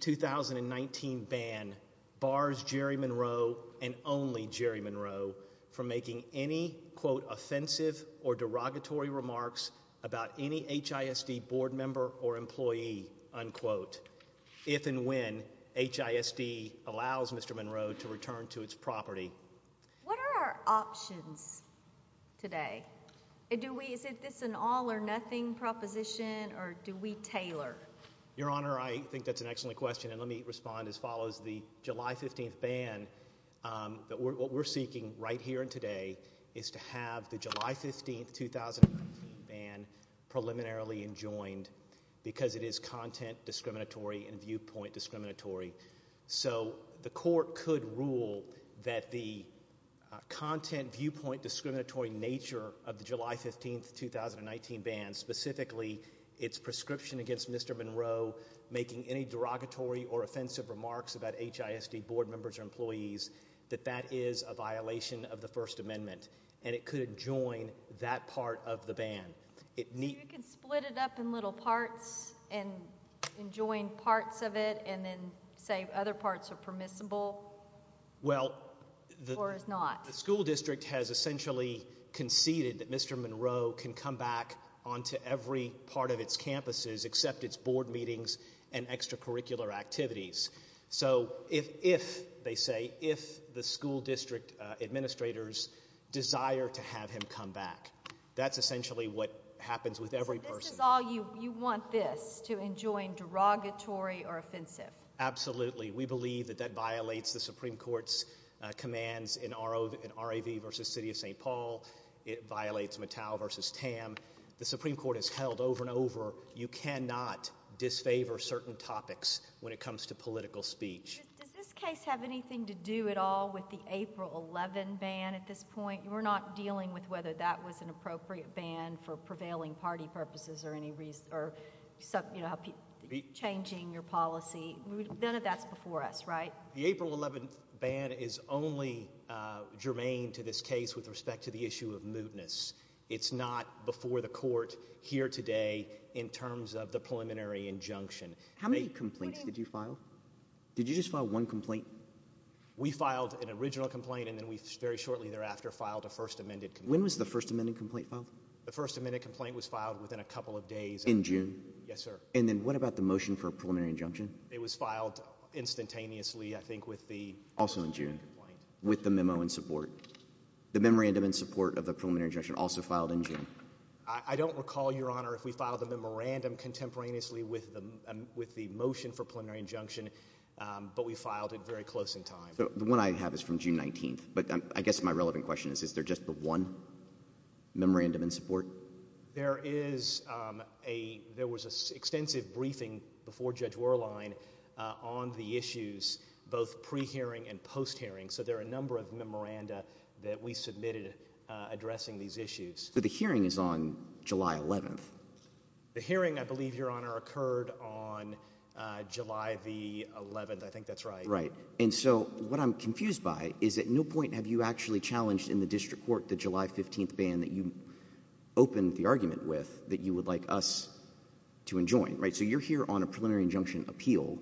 2019 ban bars Jerry Monroe and only Jerry Monroe from making any quote offensive or derogatory remarks about any HISD board member or employee unquote if and when HISD allows Mr. Monroe to return to its property. What are our options today? Is this an all-or-nothing proposition or do we question and let me respond as follows the July 15th ban that what we're seeking right here and today is to have the July 15th 2019 ban preliminarily enjoined because it is content discriminatory and viewpoint discriminatory so the court could rule that the content viewpoint discriminatory nature of the July 15th 2019 ban specifically its prescription against Mr. Monroe making any derogatory or offensive remarks about HISD board members or employees that that is a violation of the First Amendment and it could join that part of the ban. You could split it up in little parts and join parts of it and then say other parts are permissible? Well the school district has essentially conceded that Mr. Monroe can come back on to every part of its campuses except its board meetings and extracurricular activities so if they say if the school district administrators desire to have him come back that's essentially what happens with every person. You want this to enjoin derogatory or offensive? Absolutely we believe that that violates the Supreme Court's commands in RAV versus City of St. Paul. It violates Mattel versus Tam. The Supreme Court has held over and over you cannot disfavor certain topics when it comes to political speech. Does this case have anything to do at all with the April 11 ban at this point? We're not dealing with whether that was an appropriate ban for prevailing party purposes or any reason or some you know changing your policy none of that's before us right? The April 11th ban is only germane to this case with respect to the issue of mootness. It's not before the court here today in terms of the preliminary injunction. How many complaints did you file? Did you just file one complaint? We filed an original complaint and then we very shortly thereafter filed a first amended complaint. When was the first amended complaint filed? The first amended complaint was filed within a couple of days. In June? Yes sir. And then what about the motion for a preliminary injunction? It was filed instantaneously I think with the. Also in June? With the memorandum in support of the preliminary injunction also filed in June. I don't recall your honor if we filed a memorandum contemporaneously with them with the motion for preliminary injunction but we filed it very close in time. The one I have is from June 19th but I guess my relevant question is is there just the one memorandum in support? There is a there was a extensive briefing before Judge Werlein on the issues both pre-hearing and post-hearing so there are a number of memoranda that we submitted addressing these issues. So the hearing is on July 11th? The hearing I believe your honor occurred on July the 11th I think that's right. Right and so what I'm confused by is at no point have you actually challenged in the district court the July 15th ban that you opened the argument with that you would like us to enjoin right so you're here on a preliminary injunction appeal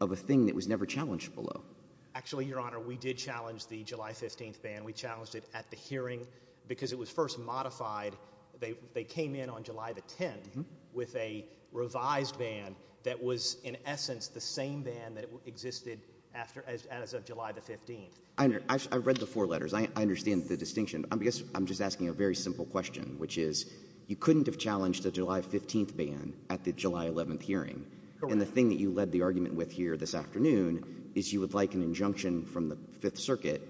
of a thing that was never challenged below. Actually your honor we did challenge the July 15th ban we challenged it at the hearing because it was first modified they they came in on July the 10th with a revised ban that was in essence the same ban that existed after as of July the 15th. I read the four letters I understand the distinction I guess I'm just asking a very simple question which is you couldn't have challenged the July 15th ban at the July 11th hearing and the thing that you led the argument with here this afternoon is you would like an injunction from the Fifth Circuit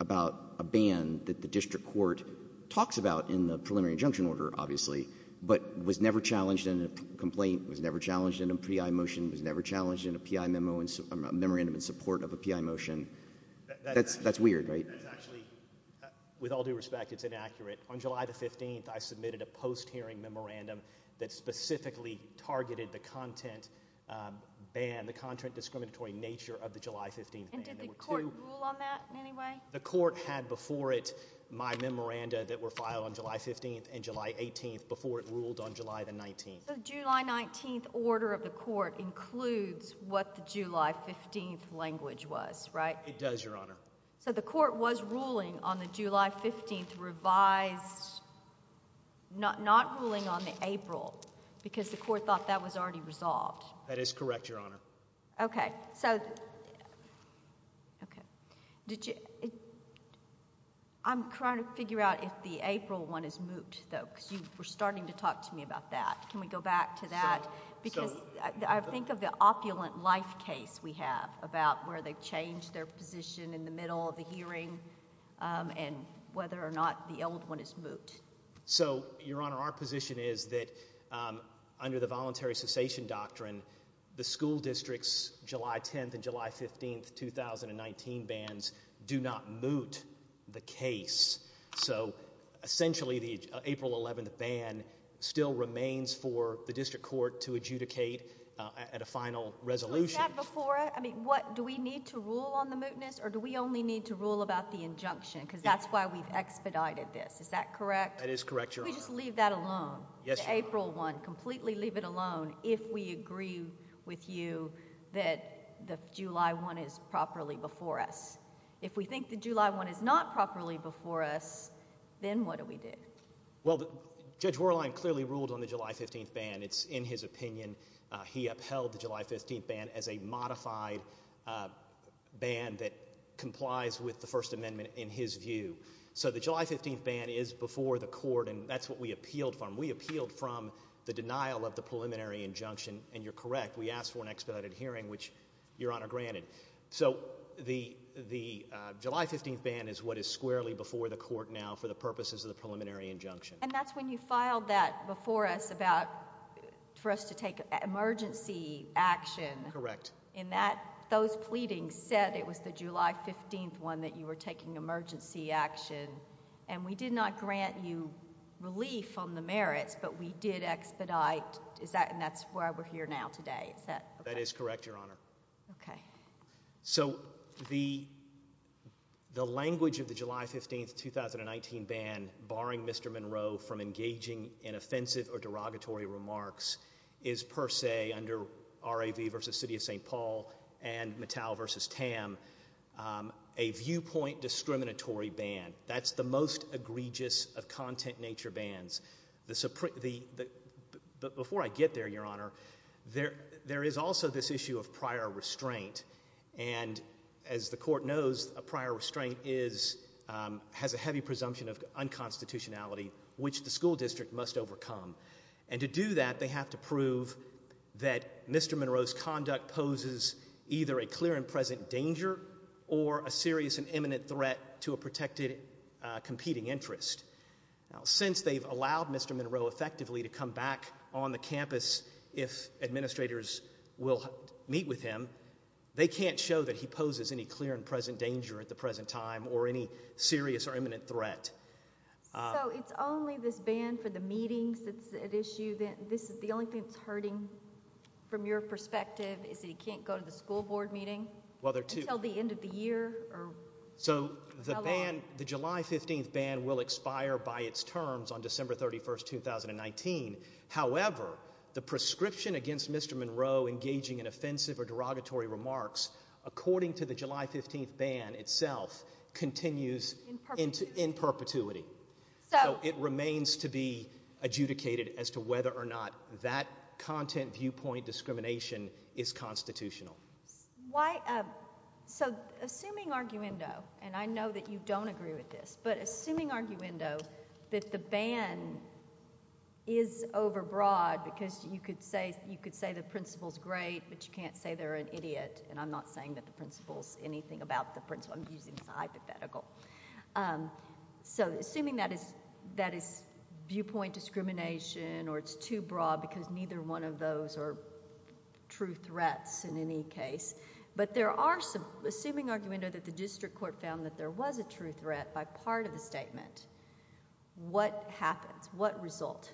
about a ban that the district court talks about in the preliminary injunction order obviously but was never challenged in a complaint was never challenged in a PI motion was never challenged in a PI memo and memorandum in support of a PI motion. That's that's weird right? With all due respect it's inaccurate on July the 15th I submitted a post-hearing memorandum that specifically targeted the content ban the content discriminatory nature of the July 15th ban. Did the court rule on that in any way? The court had before it my memoranda that were filed on July 15th and July 18th before it ruled on July the 19th. The July 19th order of the court includes what the July 15th language was right? It does your honor. So the court was ruling on the July 15th revised not not ruling on April because the court thought that was already resolved. That is correct your honor. Okay so okay did you I'm trying to figure out if the April one is moot though because you were starting to talk to me about that can we go back to that because I think of the opulent life case we have about where they change their position in the middle of the hearing and whether or not the old one is moot. So your honor our position is that under the voluntary cessation doctrine the school districts July 10th and July 15th 2019 bans do not moot the case. So essentially the April 11th ban still remains for the district court to adjudicate at a final resolution. I mean what do we need to rule on the mootness or do we only need to rule about the injunction because that's why we've expedited this. Is that correct? That is correct your honor. Can we just leave that alone? Yes your honor. The April one completely leave it alone if we agree with you that the July one is properly before us. If we think the July one is not properly before us then what do we do? Well Judge Worlein clearly ruled on the July 15th ban. It's in his opinion he upheld the July 15th ban as a modified ban that complies with the First Amendment in his view. So the July 15th ban is before the court and that's what we appealed from. We appealed from the denial of the preliminary injunction and you're correct we asked for an expedited hearing which your honor granted. So the the July 15th ban is what is squarely before the court now for the purposes of the preliminary injunction. And that's when you filed that before us about for us to take emergency action. Correct. And that those pleadings said it was the emergency action and we did not grant you relief on the merits but we did expedite is that and that's why we're here now today. That is correct your honor. Okay. So the the language of the July 15th 2019 ban barring Mr. Monroe from engaging in offensive or derogatory remarks is per se under RAV versus City of St. Paul and Mattel versus TAM a viewpoint discriminatory ban. That's the most egregious of content nature bans. Before I get there your honor there there is also this issue of prior restraint and as the court knows a prior restraint is has a heavy presumption of unconstitutionality which the school district must overcome. And to do that they have to prove that Mr. Monroe's conduct poses either a clear and present danger or a serious and imminent threat to a protected competing interest. Now since they've allowed Mr. Monroe effectively to come back on the campus if administrators will meet with him they can't show that he poses any clear and present danger at the present time or any serious or imminent threat. So it's only this ban for the meetings that's at issue that this is the only thing that's hurting from your perspective is that he can't go to the school board meeting? Well there are two. Until the end of the year? So the ban the July 15th ban will expire by its terms on December 31st 2019. However the prescription against Mr. Monroe engaging in offensive or derogatory remarks according to the July 15th ban itself continues into in perpetuity. So it remains to be adjudicated as to whether or not that content viewpoint discrimination is constitutional. Why so assuming arguendo and I know that you don't agree with this but assuming arguendo that the ban is overbroad because you could say you could say the principal's great but you can't say they're an idiot and I'm not saying that the principal's anything about the principal. I'm using it as a hypothetical. So assuming that is that is viewpoint discrimination or it's too broad because neither one of those are true threats in any case but there are some assuming arguendo that the district court found that there was a true threat by part of the statement. What happens? What result?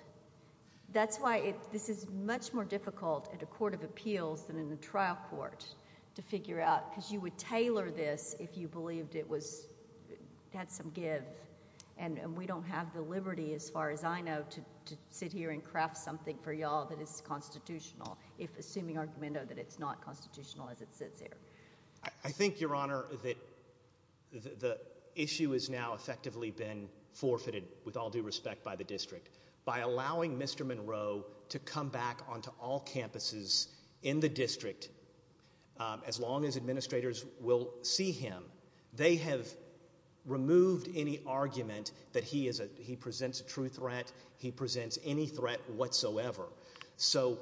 That's why it this is much more difficult at a court of appeals than in the trial court to figure out because you would tailor this if you believed it was had some give and we don't have the liberty as far as I know to sit here and craft something for y'all that is constitutional if assuming arguendo that it's not constitutional as it sits there. I think your honor that the issue is now effectively been forfeited with all due respect by the district by allowing Mr. Monroe to come back onto all campuses in the district as long as administrators will see him they have removed any argument that he is a he presents a true threat he presents any threat whatsoever so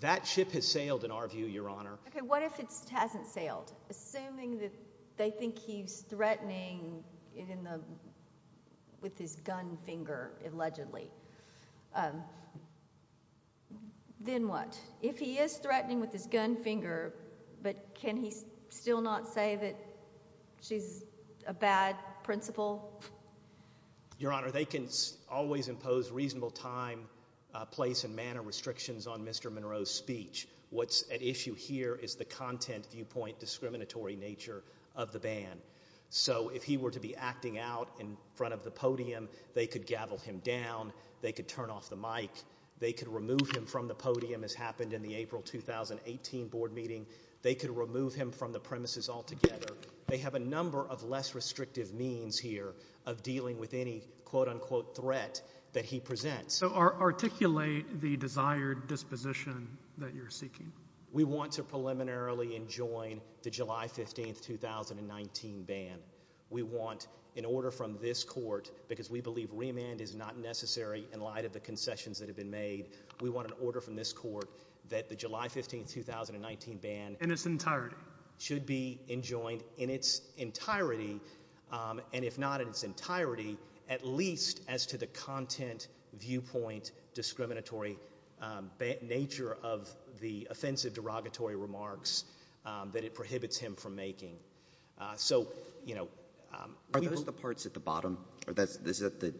that ship has sailed in our view your honor. What if it hasn't sailed? Assuming that they think he's threatening with his gun finger allegedly. Then what? If he is threatening with his gun finger but can he still not say that she's a bad principal? Your honor they can always impose reasonable time place and manner restrictions on Mr. Monroe's speech what's at issue here is the content viewpoint discriminatory nature of the podium they could gavel him down they could turn off the mic they can remove him from the podium as happened in the April 2018 board meeting they could remove him from the premises all together they have a number of less restrictive means here of dealing with any quote-unquote threat that he presents. So articulate the desired disposition that you're seeking. We want to preliminarily enjoin the July 15th 2019 ban we want in order from this court because we believe remand is not necessary in light of the concessions that have been made we want an order from this court that the July 15th 2019 ban in its entirety should be enjoined in its entirety and if not in its entirety at least as to the content viewpoint discriminatory nature of the offensive derogatory remarks that it prohibits him from making. So you know Are those the parts at the bottom? Is that the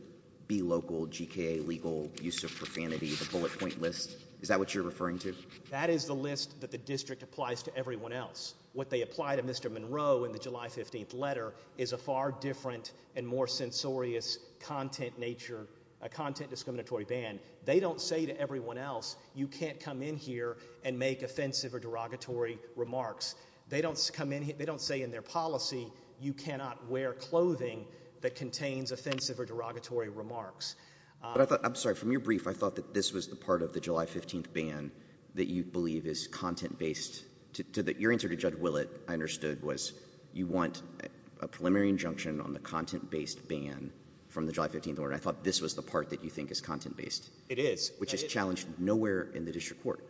be local GKA legal use of profanity the bullet point list is that what you're referring to? That is the list that the district applies to everyone else what they apply to Mr. Monroe in the July 15th letter is a far different and more censorious content nature a content discriminatory ban they don't say to everyone else you can't come in here and make offensive or derogatory remarks they don't come in they don't say in their policy you cannot wear clothing that contains offensive or derogatory remarks. But I thought I'm sorry from your brief I thought that this was the part of the July 15th ban that you believe is content-based to that your answer to Judge Willett I understood was you want a preliminary injunction on the content-based ban from the July 15th order I thought this was the part that you think is content-based. It is. Which is challenged nowhere in the district court.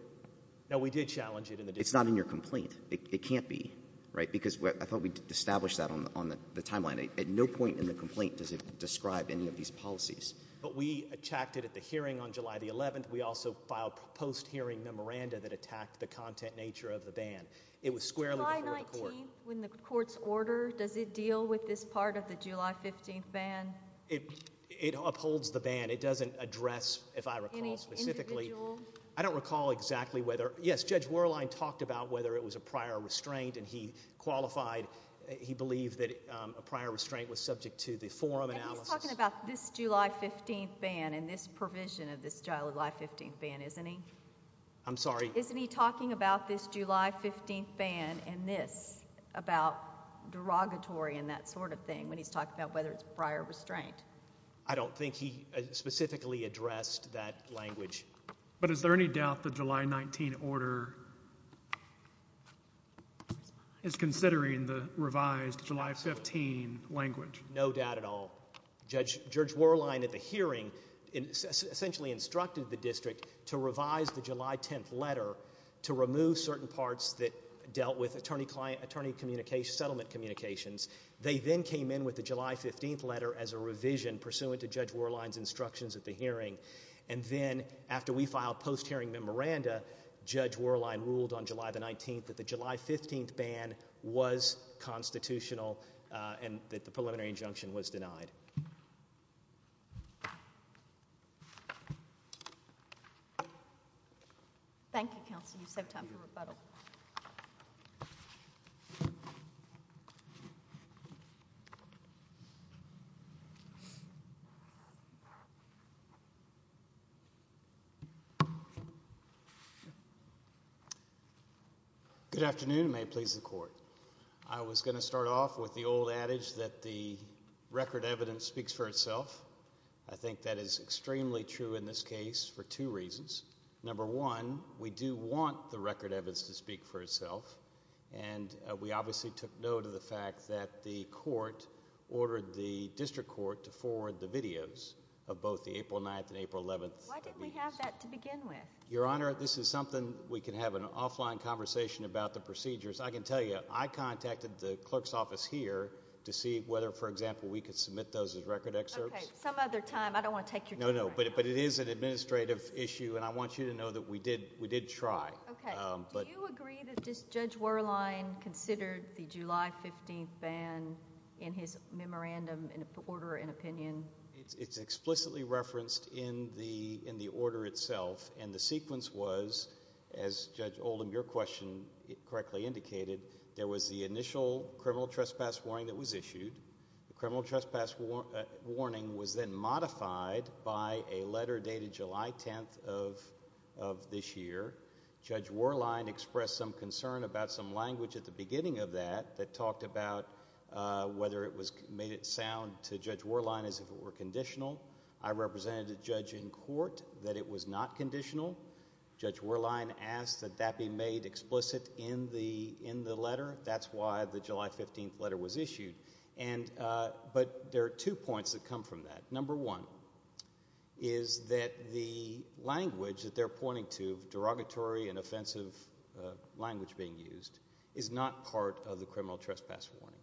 No we did challenge it in the complaint it can't be right because I thought we'd establish that on the on the timeline at no point in the complaint does it describe any of these policies. But we attacked it at the hearing on July the 11th we also filed post-hearing memoranda that attacked the content nature of the ban it was squarely when the courts order does it deal with this part of the July 15th ban it it upholds the ban it doesn't address if I recall specifically I don't recall exactly whether yes Judge Werlein talked about whether it was a prior restraint and he qualified he believed that a prior restraint was subject to the forum analysis. He's talking about this July 15th ban and this provision of this July 15th ban isn't he? I'm sorry. Isn't he talking about this July 15th ban and this about derogatory and that sort of thing when he's talking about whether it's prior restraint? I don't think he specifically addressed that language. But is there any doubt the July 19 order is considering the revised July 15 language? No doubt at all. Judge Werlein at the hearing essentially instructed the district to revise the July 10th letter to remove certain parts that dealt with attorney client attorney communication settlement communications. They then came in with the July 15th letter as a revision pursuant to Judge Werlein's post-hearing memoranda Judge Werlein ruled on July the 19th that the July 15th ban was constitutional and that the preliminary injunction was denied. Thank you counsel you have time for rebuttal. Good afternoon. May it please the court. I was going to start off with the old adage that the record evidence speaks for itself. I think that is extremely true in this case for two reasons. Number one we do want the record evidence to speak for itself and we obviously took note of the fact that the court ordered the district court to forward the videos of both the April 9th and April 11th. Why didn't we have that to begin with? Your Honor this is something we can have an offline conversation about the procedures. I can tell you I contacted the clerk's office here to see whether for example we could submit those as record excerpts. Some other time I don't want to take your time. No no but it is an administrative issue and I want you to know that we did we did try. Okay. Do you agree that Judge Werlein considered the July 15th ban in his memorandum in order and in the order itself and the sequence was as Judge Oldham your question correctly indicated there was the initial criminal trespass warning that was issued. The criminal trespass warning was then modified by a letter dated July 10th of this year. Judge Werlein expressed some concern about some language at the beginning of that that talked about whether it was made it sound to Judge Werlein as if it were conditional. I represented a judge in that it was not conditional. Judge Werlein asked that be made explicit in the in the letter. That's why the July 15th letter was issued and but there are two points that come from that. Number one is that the language that they're pointing to derogatory and offensive language being used is not part of the criminal trespass warning.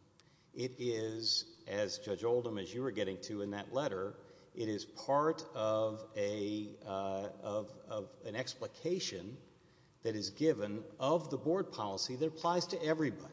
It is as Judge Oldham as you were getting to in that of of an explication that is given of the board policy that applies to everybody.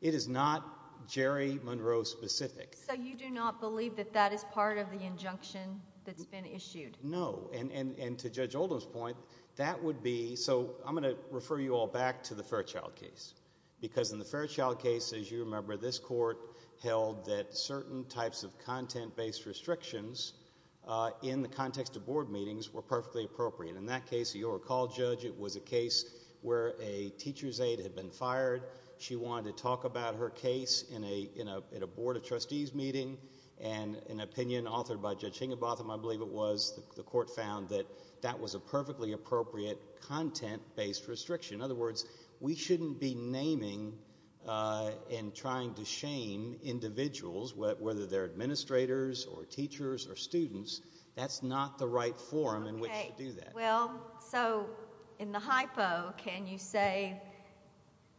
It is not Jerry Monroe specific. So you do not believe that that is part of the injunction that's been issued? No. And and and to Judge Oldham's point that would be so I'm going to refer you all back to the Fairchild case because in the Fairchild case as you remember this court held that certain types of content based restrictions uh in the context of board meetings were perfectly appropriate. In that case you recall Judge it was a case where a teacher's aide had been fired. She wanted to talk about her case in a in a in a board of trustees meeting and an opinion authored by judging about them. I believe it was the court found that that was a perfectly appropriate content based restriction. In other words we shouldn't be naming uh and trying to shame individuals whether they're in a forum in which to do that. Well so in the hypo can you say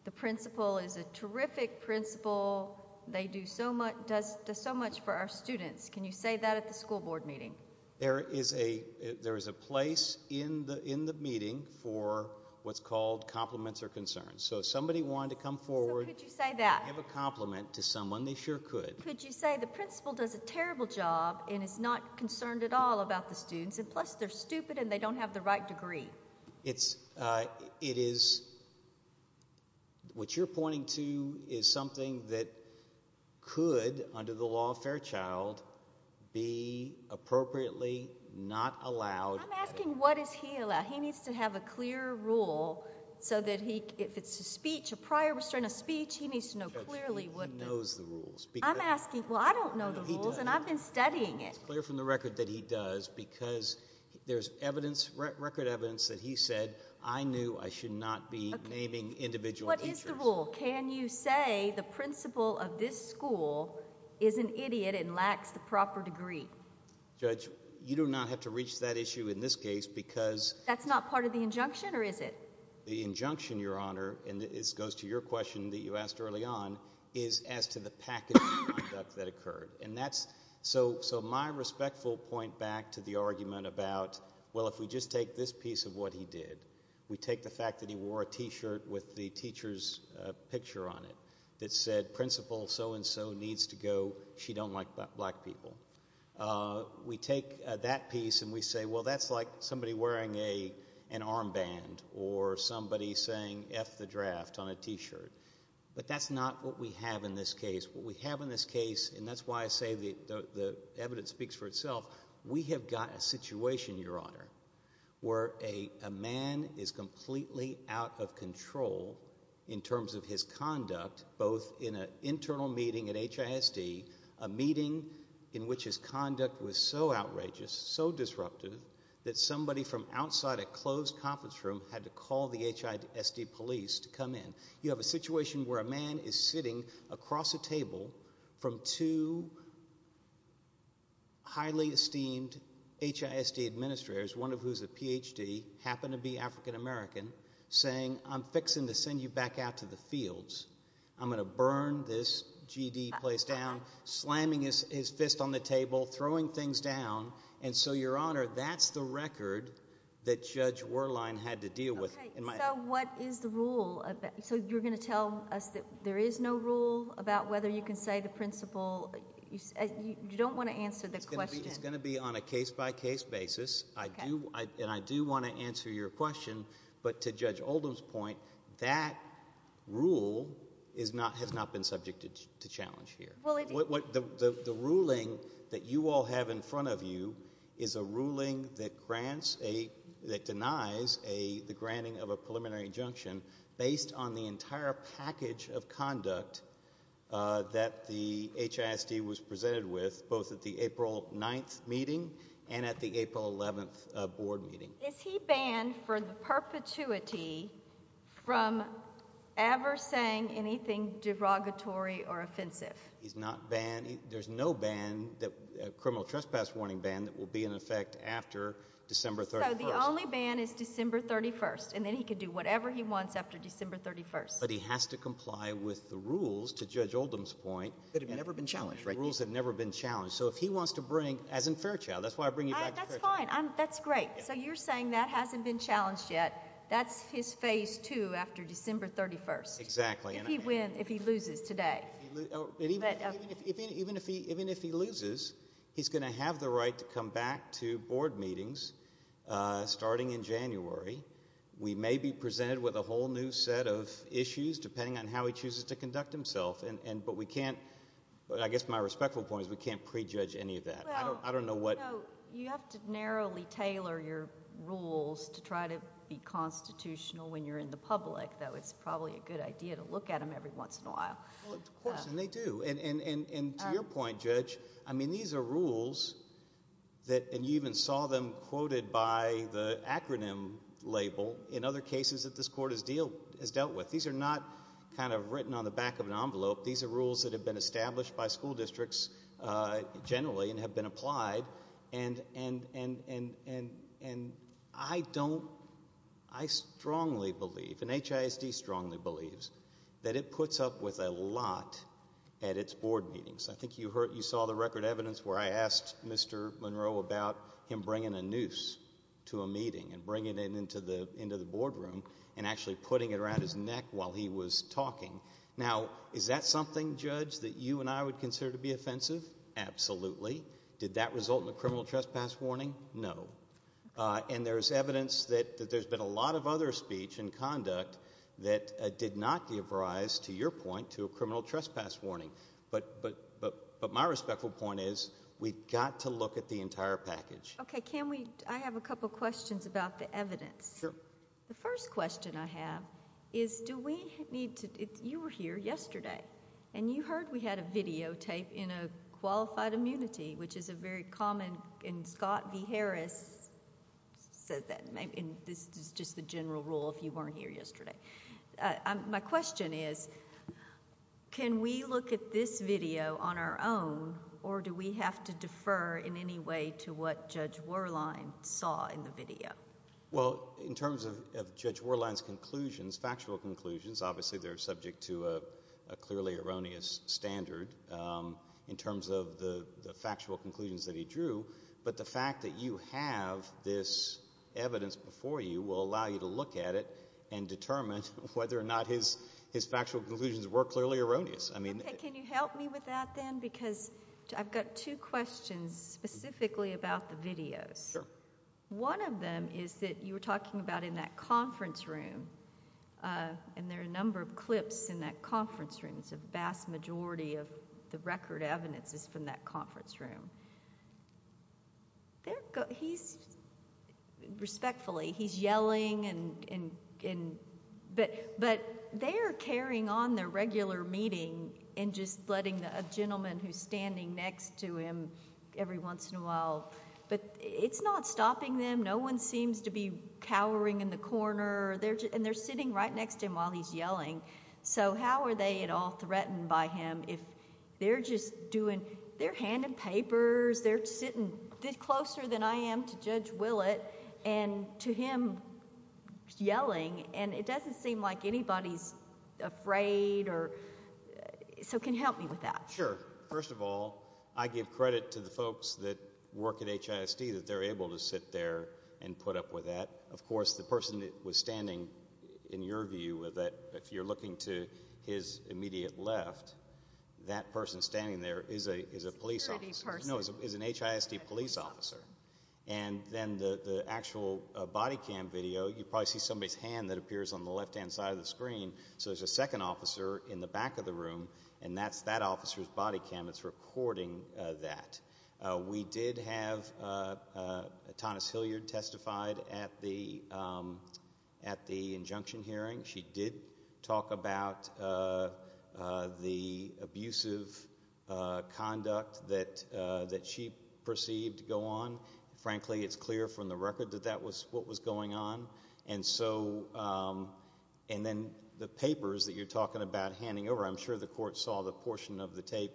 the principal is a terrific principal. They do so much does so much for our students. Can you say that at the school board meeting? There is a there is a place in the in the meeting for what's called compliments or concerns. So somebody wanted to come forward. So could you say that? Give a compliment to someone they sure could. Could you say the principal does a terrible job and is not concerned at all about the students and plus they're stupid and they don't have the right degree. It's uh it is what you're pointing to is something that could under the law Fairchild be appropriately not allowed. I'm asking what is he allowed. He needs to have a clear rule so that he if it's a speech a prior restraining speech he needs to know clearly. He knows the rules. I'm asking well I don't know the rules and I've been studying it. It's clear from the record that he does because there's evidence record evidence that he said I knew I should not be naming individual teachers. What is the rule? Can you say the principal of this school is an idiot and lacks the proper degree? Judge you do not have to reach that issue in this case because. That's not part of the injunction or is it? The injunction your honor and this goes to your question that you asked early on is as to the package of conduct that occurred and that's so so my respectful point back to the argument about well if we just take this piece of what he did we take the fact that he wore a t-shirt with the teacher's picture on it that said principal so-and-so needs to go she don't like black people. We take that piece and we say well that's like somebody wearing a an armband or somebody saying F the draft on a t-shirt but that's not what we have in this case. What we have in this case and that's why I say the evidence speaks for itself we have got a situation your honor where a man is completely out of control in terms of his conduct both in an internal meeting at HISD a meeting in which his conduct was so outrageous so disruptive that somebody from outside a closed conference room had to call the HISD police to come in. You have a situation where a man is sitting across the table from two highly esteemed HISD administrators one of whose a PhD happen to be african-american saying I'm fixing to send you back out to the fields I'm gonna burn this GD place down slamming his fist on the table throwing things down and so your honor that's the record that Judge Werlein had to deal with. So what is the rule so you're gonna tell us that there is no rule about whether you can say the principle you don't want to answer the question. It's gonna be on a case-by-case basis I do and I do want to answer your question but to Judge Oldham's point that rule is not has not been subjected to challenge here what the ruling that you all have in front of you is a ruling that grants a that denies a the granting of a preliminary injunction based on the that the HISD was presented with both at the April 9th meeting and at the April 11th board meeting. Is he banned for the perpetuity from ever saying anything derogatory or offensive? He's not banned there's no ban that criminal trespass warning ban that will be in effect after December 31st. So the only ban is December 31st and then he could do whatever he wants after December 31st. But he has to comply with the rules to Judge Oldham's point that have never been challenged right rules have never been challenged so if he wants to bring as in Fairchild that's why I bring you back. That's fine, that's great. So you're saying that hasn't been challenged yet that's his phase two after December 31st. Exactly. If he wins, if he loses today. Even if he loses he's gonna have the right to come back to board meetings starting in January. We may be presented with a whole new set of issues depending on how he chooses to conduct himself and but we can't but I guess my respectful point is we can't prejudge any of that. I don't know what. You have to narrowly tailor your rules to try to be constitutional when you're in the public though it's probably a good idea to look at them every once in a while. Of course and they do and to your point Judge I mean these are rules that and you even saw them quoted by the acronym label in other cases that this court has dealt with. These are not kind of written on the back of an envelope. These are rules that have been established by school districts generally and have been applied and I don't, I strongly believe and HISD strongly believes that it puts up with a lot at its board meetings. I think you saw the record evidence where I asked Mr. Monroe about him bringing a noose to a meeting and bringing it into the boardroom and actually putting it around his neck while he was talking. Now is that something Judge that you and I would consider to be offensive? Absolutely. Did that result in a criminal trespass warning? No. And there's evidence that there's been a lot of other speech and conduct that did not give rise to your point to a criminal trespass warning but my respectful point is we've got to look at the entire package. Okay can we, I have a couple questions about the evidence. Sure. The first question I have is do we need to, you were here yesterday and you heard we had a videotape in a qualified immunity which is a very common, and Scott V. Harris said that, and this is just the general rule if you weren't here yesterday. My question is can we look at this video on our own or do we have to defer in any way to what Judge Werlein saw in the video? Well in terms of Judge Werlein's conclusions, factual conclusions, obviously they're subject to a clearly erroneous standard in terms of the factual conclusions that he drew but the fact that you have this evidence before you will allow you to look at it and determine whether or not his factual conclusions were clearly erroneous. Okay can you help me with that then because I've got two questions specifically about the video. Sure. One of them is that you were talking about in that conference room and there are a number of clips in that conference room, it's a vast majority of the record evidence is from that conference room. He's, respectfully, he's yelling and, but they're carrying on their regular meeting and just letting a gentleman who's standing next to him every once in a while, but it's not stopping them, no one seems to be cowering in the corner, and they're sitting right next to him while he's yelling, so how are they at all threatened by him if they're just doing, they're handing papers, they're sitting closer than I am to Judge Willett and to him yelling and it doesn't seem like anybody's afraid or, so can you help me with that? Sure. First of all, I give credit to the folks that work at HISD that they're able to sit there and put up with that. Of course, the person that was standing, in your view, if you're looking to his immediate left, that person standing there is a police officer, no, is an HISD police officer, and then the actual body cam video, you probably see somebody's hand that appears on the left-hand side of the screen, so there's a second officer in the back of the room and that's that officer's right hand. It's not his body cam, it's recording that. We did have Tonis Hilliard testified at the injunction hearing. She did talk about the abusive conduct that she perceived to go on. Frankly, it's clear from the record that that was what was going on, and so, and then the papers that you're talking about handing over, I'm sure the court saw the portion of the tape.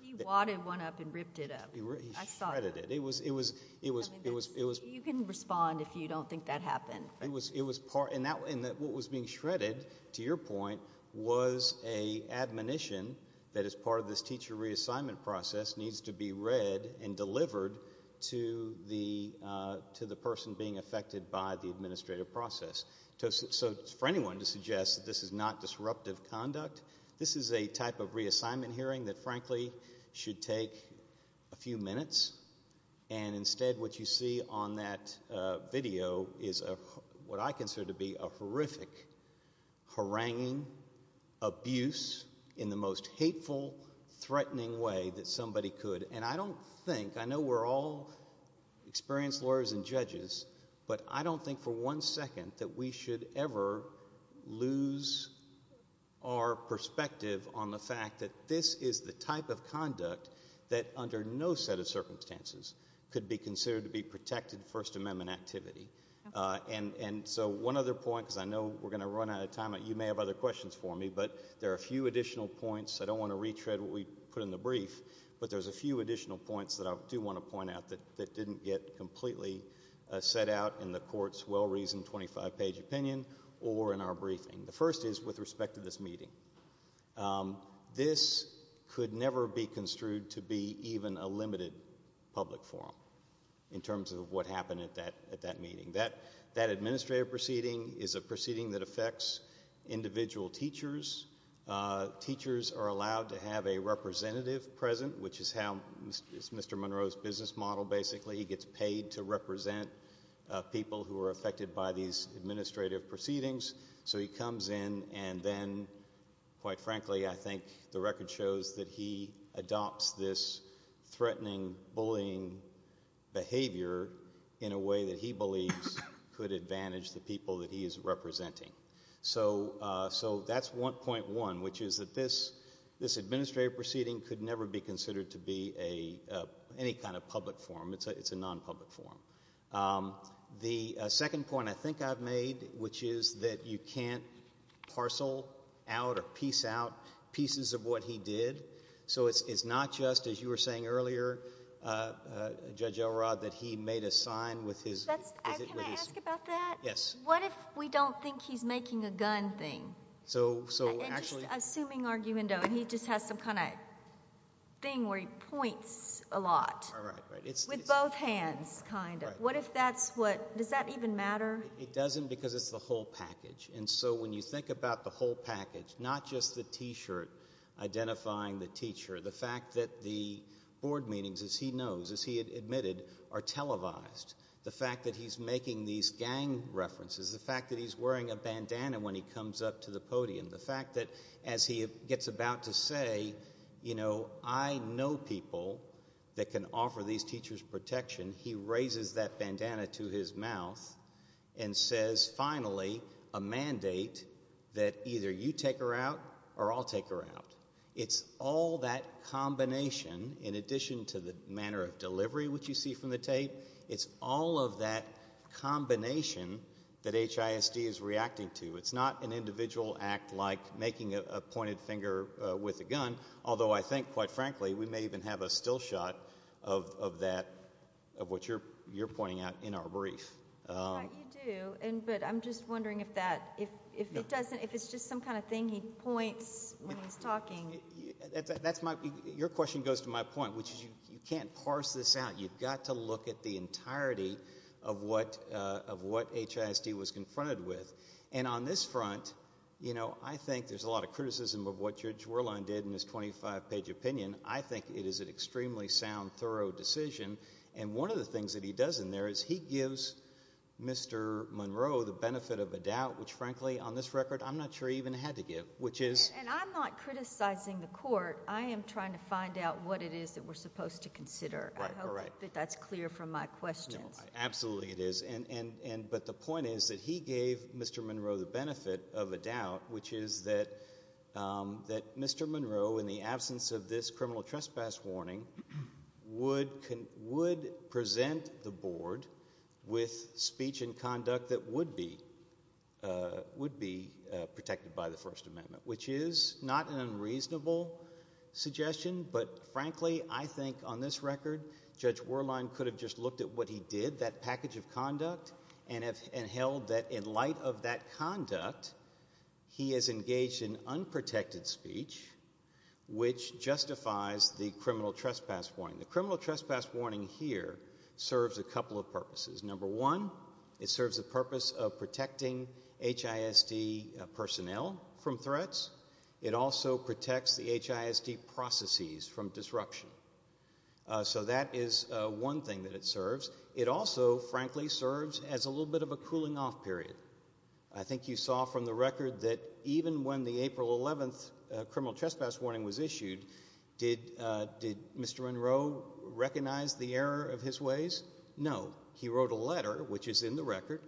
He wadded one up and ripped it up. I saw that. He shredded it. It was, it was, it was, it was. You can respond if you don't think that happened. And what was being shredded, to your point, was an admonition that as part of this teacher reassignment process needs to be read and delivered to the person being affected by the administrative process. So for anyone to suggest that this is not disruptive conduct, this is a type of reassignment hearing that frankly should take a few minutes, and instead what you see on that video is what I consider to be a horrific, haranguing abuse in the most hateful, threatening way that somebody could. And I don't think, I know we're all experienced lawyers and judges, but I don't think for one second that we should ever lose our perspective on the fact that this is the type of conduct that under no set of circumstances could be considered to be protected First Amendment activity. And so one other point, because I know we're going to run out of time. You may have other questions for me, but there are a few additional points. I don't want to retread what we put in the brief, but there's a few additional points that I do want to point out that didn't get completely set out in the court's well-reasoned 25-page opinion or in our briefing. The first is with respect to this meeting. This could never be construed to be even a limited public forum in terms of what happened at that meeting. That administrative proceeding is a proceeding that affects individual teachers. Teachers are allowed to have a representative present, which is how Mr. Monroe's business model basically gets paid to represent people who are affected by these administrative proceedings. So he comes in and then, quite frankly, I think the record shows that he adopts this threatening, bullying behavior in a way that he believes could advantage the people that he is representing. So that's 1.1, which is that this administrative proceeding could never be considered to be any kind of public forum. It's a non-public forum. The second point I think I've made, which is that you can't parcel out or piece out pieces of what he did. So it's not just, as you were saying earlier, Judge Elrod, that he made a sign with his... Can I ask about that? Yes. What if we don't think he's making a gun thing? So actually... Does that even matter? It doesn't because it's the whole package. And so when you think about the whole package, not just the T-shirt identifying the teacher, the fact that the board meetings, as he knows, as he admitted, are televised. The fact that he's making these gang references. The fact that he's wearing a bandana when he comes up to the podium. The fact that as he gets about to say, you know, I know people that can offer these teachers protection. He raises that bandana to his mouth and says, finally, a mandate that either you take her out or I'll take her out. It's all that combination, in addition to the manner of delivery, which you see from the tape. It's all of that combination that HISD is reacting to. It's not an individual act like making a pointed finger with a gun, although I think, quite frankly, we may even have a still shot of that, of what you're pointing out in our brief. You do, but I'm just wondering if it's just some kind of thing he points when he's talking. Your question goes to my point, which is you can't parse this out. You've got to look at the entirety of what HISD was confronted with. On this front, I think there's a lot of criticism of what Judge Whirlwind did in his 25-page opinion. I think it is an extremely sound, thorough decision. One of the things that he does in there is he gives Mr. Monroe the benefit of a doubt, which frankly, on this record, I'm not sure he even had to give. And I'm not criticizing the court. I am trying to find out what it is that we're supposed to consider. I hope that that's clear from my questions. Absolutely it is. But the point is that he gave Mr. Monroe the benefit of a doubt, which is that Mr. Monroe, in the absence of this criminal trespass warning, would present the board with speech and conduct that would be protected by the First Amendment, which is not an unreasonable suggestion. But frankly, I think on this record, Judge Whirlwind could have just looked at what he did, that package of conduct, and held that in light of that conduct, he has engaged in unprotected speech, which justifies the criminal trespass warning. The criminal trespass warning here serves a couple of purposes. Number one, it serves the purpose of protecting HISD personnel from threats. It also protects the HISD processes from disruption. So that is one thing that it serves. It also, frankly, serves as a little bit of a cooling off period. I think you saw from the record that even when the April 11th criminal trespass warning was issued, did Mr. Monroe recognize the error of his ways? No. He wrote a letter, which is in the record,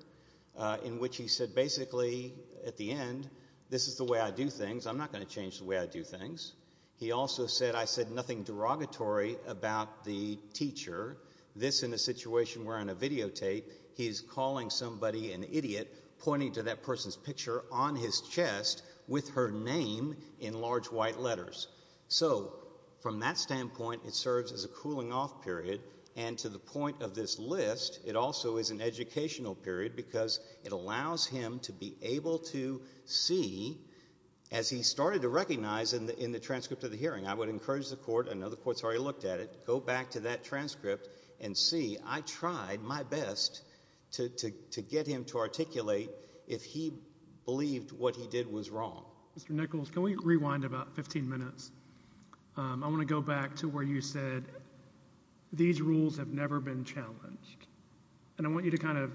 in which he said basically at the end, this is the way I do things. I'm not going to change the way I do things. He also said, I said nothing derogatory about the teacher. This in a situation where on a videotape, he's calling somebody an idiot, pointing to that person's picture on his chest with her name in large white letters. So from that standpoint, it serves as a cooling off period. And to the point of this list, it also is an educational period because it allows him to be able to see, as he started to recognize in the transcript of the hearing, I would encourage the court, I know the court's already looked at it, go back to that transcript and see, I tried my best to get him to articulate if he believed what he did was wrong. Mr. Nichols, can we rewind about 15 minutes? I want to go back to where you said these rules have never been challenged. And I want you to kind of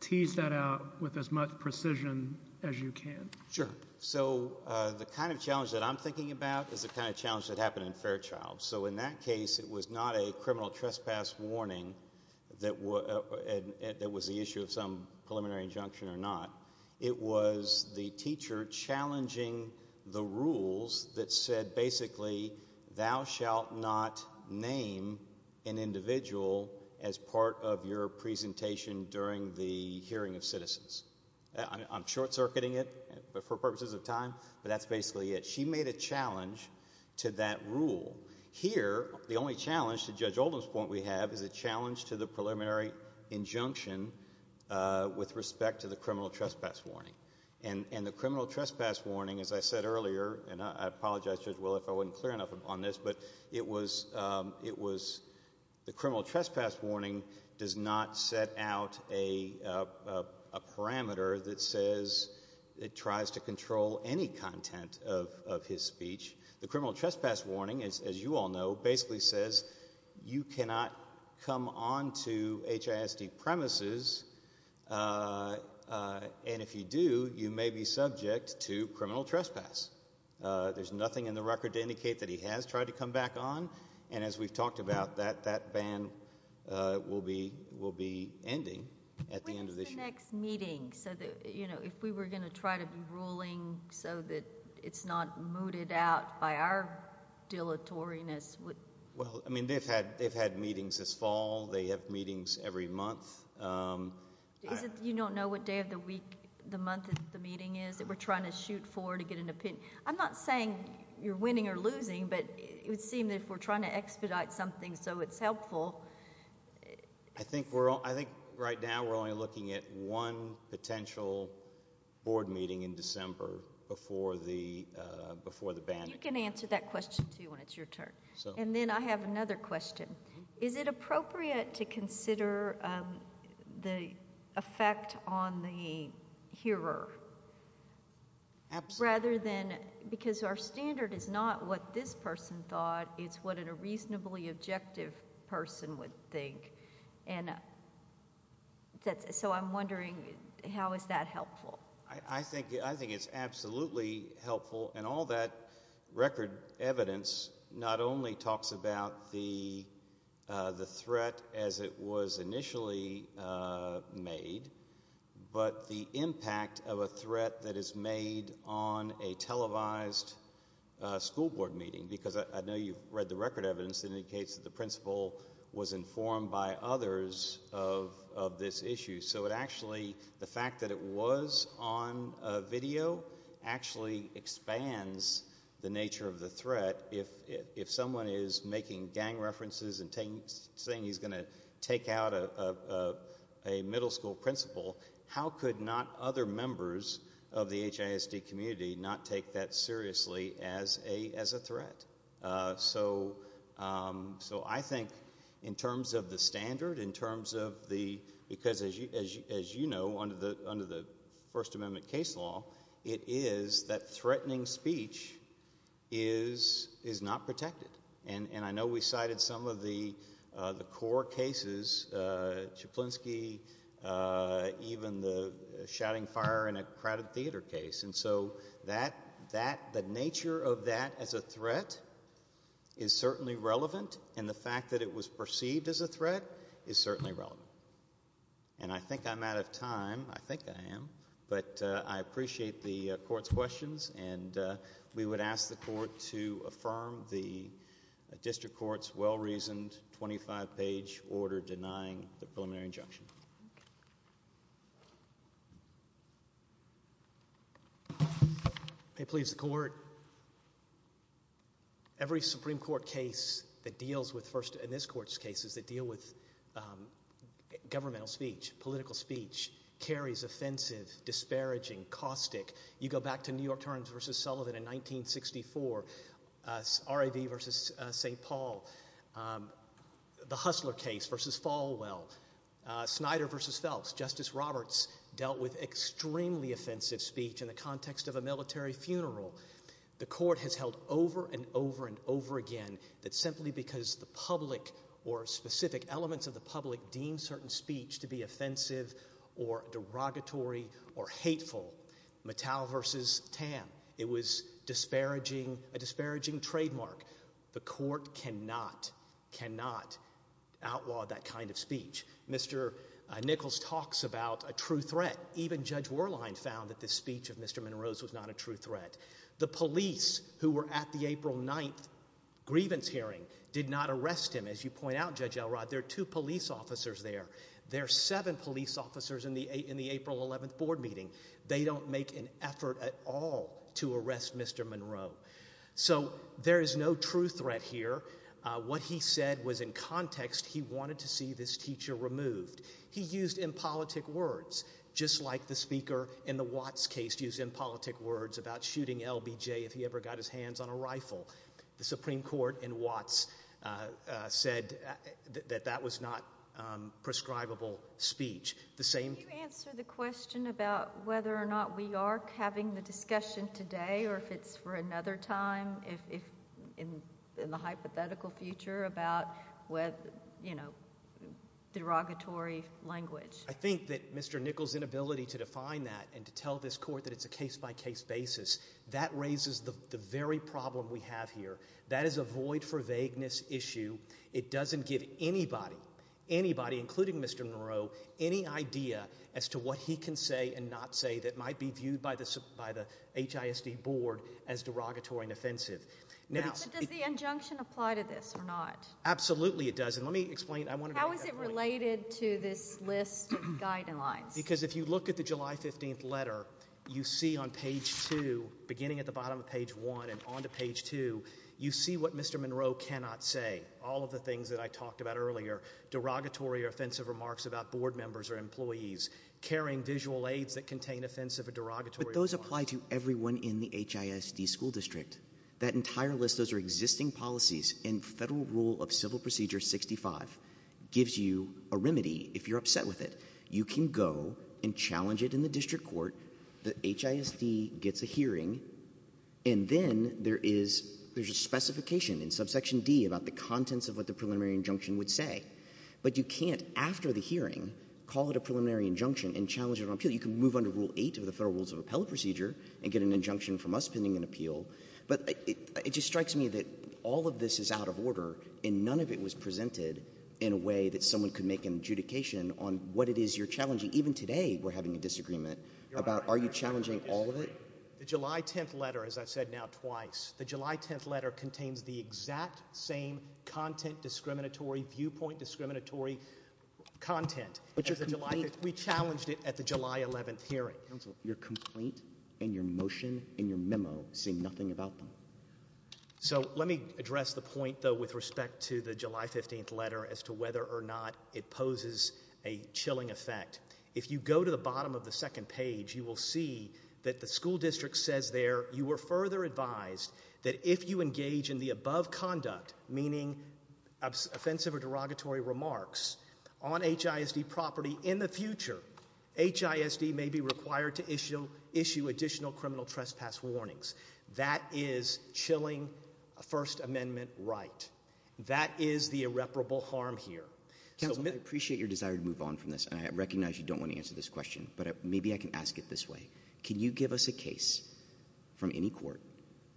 tease that out with as much precision as you can. Sure. So the kind of challenge that I'm thinking about is the kind of challenge that happened in Fairchild. So in that case, it was not a criminal trespass warning that was the issue of some preliminary injunction or not. It was the teacher challenging the rules that said basically, thou shalt not name an individual as part of your presentation during the hearing of citizens. I'm short-circuiting it for purposes of time, but that's basically it. She made a challenge to that rule. Here, the only challenge, to Judge Oldham's point we have, is a challenge to the preliminary injunction with respect to the criminal trespass warning. And the criminal trespass warning, as I said earlier, and I apologize, Judge Will, if I wasn't clear enough on this, but it was the criminal trespass warning does not set out a parameter that says it tries to control any content of his speech. The criminal trespass warning, as you all know, basically says you cannot come onto HISD premises, and if you do, you may be subject to criminal trespass. There's nothing in the record to indicate that he has tried to come back on, and as we've talked about, that ban will be ending at the end of the hearing. At the next meeting, if we were going to try to be ruling so that it's not mooted out by our dilatoriness... Well, I mean, they've had meetings this fall. They have meetings every month. You don't know what day of the week, the month the meeting is that we're trying to shoot for to get an opinion? I'm not saying you're winning or losing, but it would seem that if we're trying to expedite something so it's helpful... I think right now we're only looking at one potential board meeting in December before the ban... You can answer that question, too, when it's your turn. And then I have another question. Is it appropriate to consider the effect on the hearer... Absolutely. Rather than... because our standard is not what this person thought. It's what a reasonably objective person would think. So, I'm wondering, how is that helpful? I think it's absolutely helpful. And all that record evidence, not only talks about the threat as it was initially made... But, the impact of a threat that is made on a televised school board meeting. Because I know you've read the record evidence that indicates that the principal was informed by others of this issue. So, it actually... the fact that it was on video, actually expands the nature of the threat. If someone is making gang references and saying he's going to take out a middle school principal... How could not other members of the HISD community not take that seriously as a threat? So, I think in terms of the standard, in terms of the... because as you know, under the First Amendment case law... It is that threatening speech is not protected. And, I know we cited some of the core cases... is certainly relevant. And, the fact that it was perceived as a threat, is certainly relevant. And, I think I'm out of time. I think I am. But, I appreciate the Court's questions. And, we would ask the Court to affirm the District Court's well-reasoned 25-page order denying the preliminary injunction. May it please the Court. Every Supreme Court case that deals with... first in this Court's cases that deal with governmental speech, political speech... carries offensive, disparaging, caustic... You go back to New York Times versus Sullivan in 1964... RAV versus St. Paul... The Hustler case versus Falwell... Snyder versus Phelps... Justice Roberts dealt with extremely offensive speech in the context of a military funeral. The Court has held over and over and over again... that simply because the public or specific elements of the public deem certain speech to be offensive or derogatory or hateful. Mattel versus Tam... It was disparaging, a disparaging trademark. The Court cannot, cannot outlaw that kind of speech. Mr. Nichols talks about a true threat. Even Judge Warline found that the speech of Mr. Monroe's was not a true threat. The police who were at the April 9th grievance hearing did not arrest him. As you point out, Judge Elrod, there are two police officers there. There are seven police officers in the April 11th board meeting. They don't make an effort at all to arrest Mr. Monroe. So, there is no true threat here. What he said was in context, he wanted to see this teacher removed. He used impolitic words, just like the speaker in the Watts case used impolitic words about shooting LBJ if he ever got his hands on a rifle. The Supreme Court in Watts said that that was not prescribable speech. The same... about, you know, derogatory language. I think that Mr. Nichols' inability to define that and to tell this Court that it's a case-by-case basis, that raises the very problem we have here. That is a void-for-vagueness issue. It doesn't give anybody, anybody, including Mr. Monroe, any idea as to what he can say and not say that might be viewed by the HISD board as derogatory and offensive. Now... But does the injunction apply to this or not? Absolutely it does. And let me explain... How is it related to this list of guidelines? Because if you look at the July 15th letter, you see on page 2, beginning at the bottom of page 1 and on to page 2, you see what Mr. Monroe cannot say. All of the things that I talked about earlier, derogatory or offensive remarks about board members or employees, carrying visual aids that contain offensive or derogatory... Those apply to everyone in the HISD school district. That entire list, those are existing policies in Federal Rule of Civil Procedure 65, gives you a remedy if you're upset with it. You can go and challenge it in the district court. The HISD gets a hearing. And then there is a specification in subsection D about the contents of what the preliminary injunction would say. But you can't, after the hearing, call it a preliminary injunction and challenge it on appeal. You can move under Rule 8 of the Federal Rules of Appellate Procedure and get an injunction from us pending an appeal. But it just strikes me that all of this is out of order and none of it was presented in a way that someone could make an adjudication on what it is you're challenging. Even today, we're having a disagreement about are you challenging all of it? The July 10th letter, as I've said now twice, the July 10th letter contains the exact same content discriminatory, viewpoint discriminatory content. We challenged it at the July 11th hearing. Counsel, your complaint and your motion and your memo say nothing about them. So let me address the point, though, with respect to the July 15th letter as to whether or not it poses a chilling effect. If you go to the bottom of the second page, you will see that the school district says there, you were further advised that if you engage in the above conduct, meaning offensive or derogatory remarks on HISD property in the future, HISD may be required to issue additional criminal trespass warnings. That is chilling First Amendment right. That is the irreparable harm here. Counsel, I appreciate your desire to move on from this, and I recognize you don't want to answer this question, but maybe I can ask it this way. Can you give us a case from any court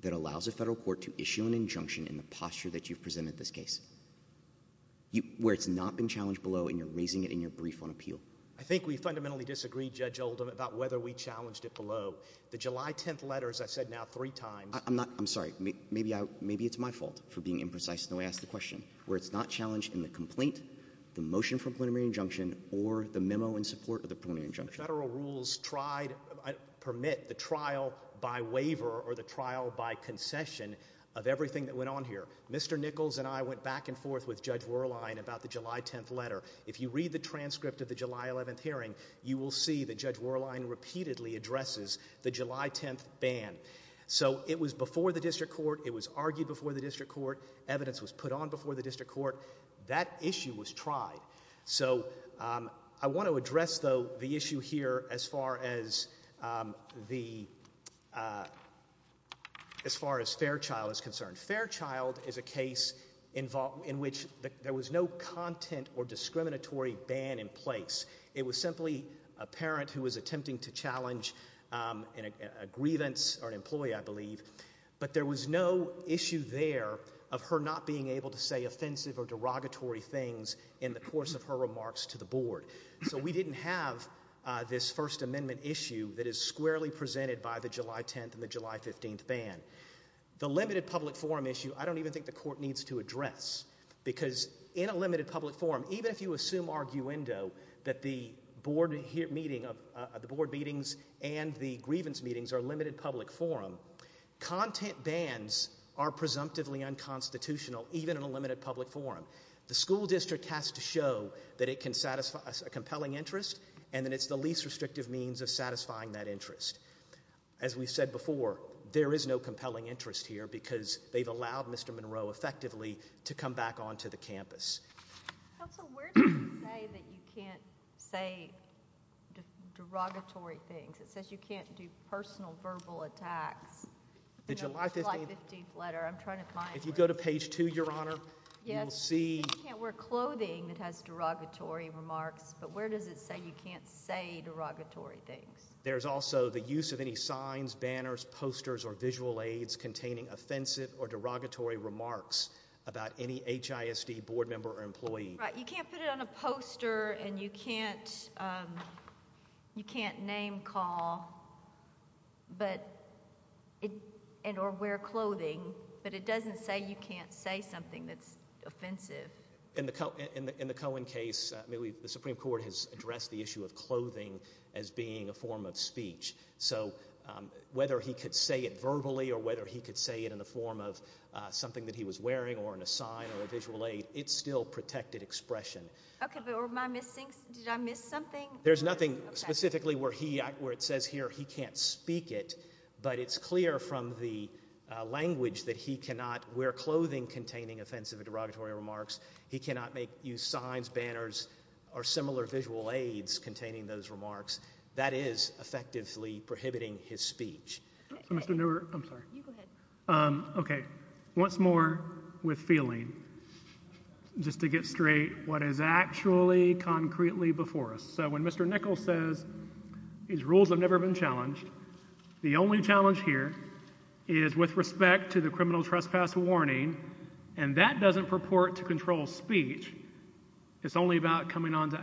that allows a federal court to issue an injunction in the posture that you've presented this case, where it's not been challenged below and you're raising it in your brief on appeal? I think we fundamentally disagree, Judge Oldham, about whether we challenged it below. The July 10th letter, as I've said now three times— I'm sorry. Maybe it's my fault for being imprecise in the way I asked the question. Where it's not challenged in the complaint, the motion for preliminary injunction, or the memo in support of the preliminary injunction. Federal rules permit the trial by waiver or the trial by concession of everything that went on here. Mr. Nichols and I went back and forth with Judge Werlein about the July 10th letter. If you read the transcript of the July 11th hearing, you will see that Judge Werlein repeatedly addresses the July 10th ban. So it was before the district court. It was argued before the district court. Evidence was put on before the district court. That issue was tried. So I want to address, though, the issue here as far as Fairchild is concerned. Fairchild is a case in which there was no content or discriminatory ban in place. It was simply a parent who was attempting to challenge a grievance or an employee, I believe. But there was no issue there of her not being able to say offensive or derogatory things in the course of her remarks to the board. So we didn't have this First Amendment issue that is squarely presented by the July 10th and the July 15th ban. The limited public forum issue, I don't even think the court needs to address. Because in a limited public forum, even if you assume arguendo that the board meetings and the grievance meetings are limited public forum, content bans are presumptively unconstitutional even in a limited public forum. The school district has to show that it can satisfy a compelling interest and that it's the least restrictive means of satisfying that interest. As we've said before, there is no compelling interest here because they've allowed Mr. Monroe effectively to come back onto the campus. Counsel, where does it say that you can't say derogatory things? It says you can't do personal verbal attacks. The July 15th letter, I'm trying to find where it is. If you go to page 2, Your Honor, you will see. You can't wear clothing that has derogatory remarks, but where does it say you can't say derogatory things? There is also the use of any signs, banners, posters, or visual aids containing offensive or derogatory remarks about any HISD board member or employee. You can't put it on a poster and you can't name call or wear clothing, but it doesn't say you can't say something that's offensive. In the Cohen case, the Supreme Court has addressed the issue of clothing as being a form of speech. So whether he could say it verbally or whether he could say it in the form of something that he was wearing or in a sign or a visual aid, it's still protected expression. Okay, but did I miss something? There's nothing specifically where it says here he can't speak it, but it's clear from the language that he cannot wear clothing containing offensive or derogatory remarks. He cannot make use of signs, banners, or similar visual aids containing those remarks. That is effectively prohibiting his speech. Okay, once more with feeling just to get straight what is actually concretely before us. So when Mr. Nichols says these rules have never been challenged, the only challenge here is with respect to the criminal trespass warning, and that doesn't purport to control speech. It's only about coming onto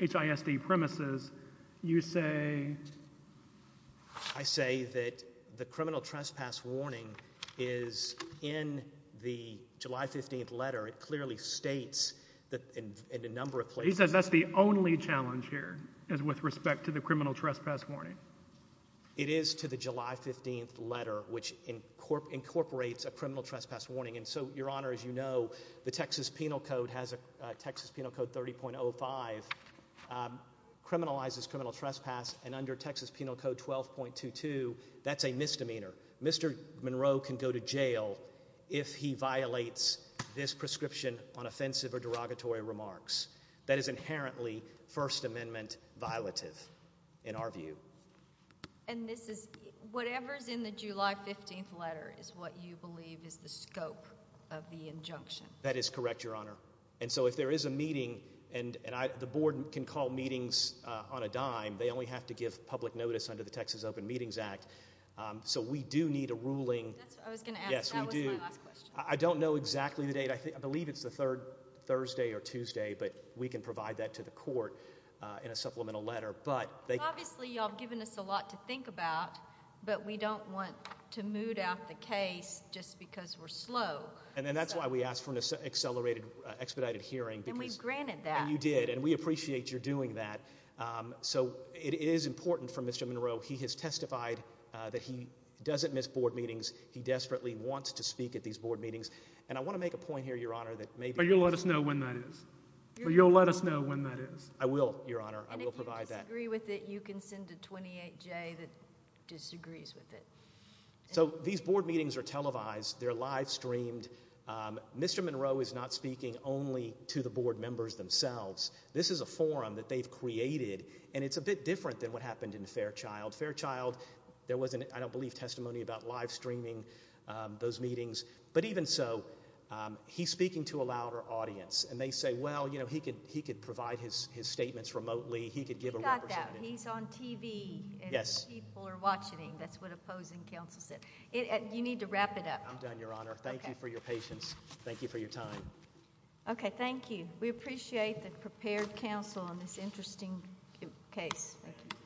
HISD premises. You say? I say that the criminal trespass warning is in the July 15th letter. It clearly states that in a number of places. He says that's the only challenge here is with respect to the criminal trespass warning. It is to the July 15th letter, which incorporates a criminal trespass warning, and so, Your Honor, as you know, the Texas Penal Code has a Texas Penal Code 30.05 criminalizes criminal trespass, and under Texas Penal Code 12.22, that's a misdemeanor. Mr. Monroe can go to jail if he violates this prescription on offensive or derogatory remarks. That is inherently First Amendment violative in our view. And this is whatever is in the July 15th letter is what you believe is the scope of the injunction. That is correct, Your Honor, and so if there is a meeting, and the board can call meetings on a dime. They only have to give public notice under the Texas Open Meetings Act, so we do need a ruling. I was going to ask. Yes, we do. That was my last question. I don't know exactly the date. I believe it's the third Thursday or Tuesday, but we can provide that to the court in a supplemental letter. Obviously, you all have given us a lot to think about, but we don't want to mood out the case just because we're slow. And that's why we asked for an expedited hearing. And we've granted that. And you did, and we appreciate your doing that. So it is important for Mr. Monroe. He has testified that he doesn't miss board meetings. He desperately wants to speak at these board meetings. And I want to make a point here, Your Honor, that maybe— But you'll let us know when that is. You'll let us know when that is. I will, Your Honor. I will provide that. And if you disagree with it, you can send a 28-J that disagrees with it. So these board meetings are televised. They're live streamed. Mr. Monroe is not speaking only to the board members themselves. This is a forum that they've created, and it's a bit different than what happened in Fairchild. Fairchild, there wasn't, I don't believe, testimony about live streaming those meetings. But even so, he's speaking to a louder audience. And they say, well, you know, he could provide his statements remotely. He could give a representative. You got that. He's on TV, and people are watching him. That's what opposing counsel said. You need to wrap it up. I'm done, Your Honor. Thank you for your patience. Thank you for your time. Okay, thank you. We appreciate the prepared counsel on this interesting case. Thank you.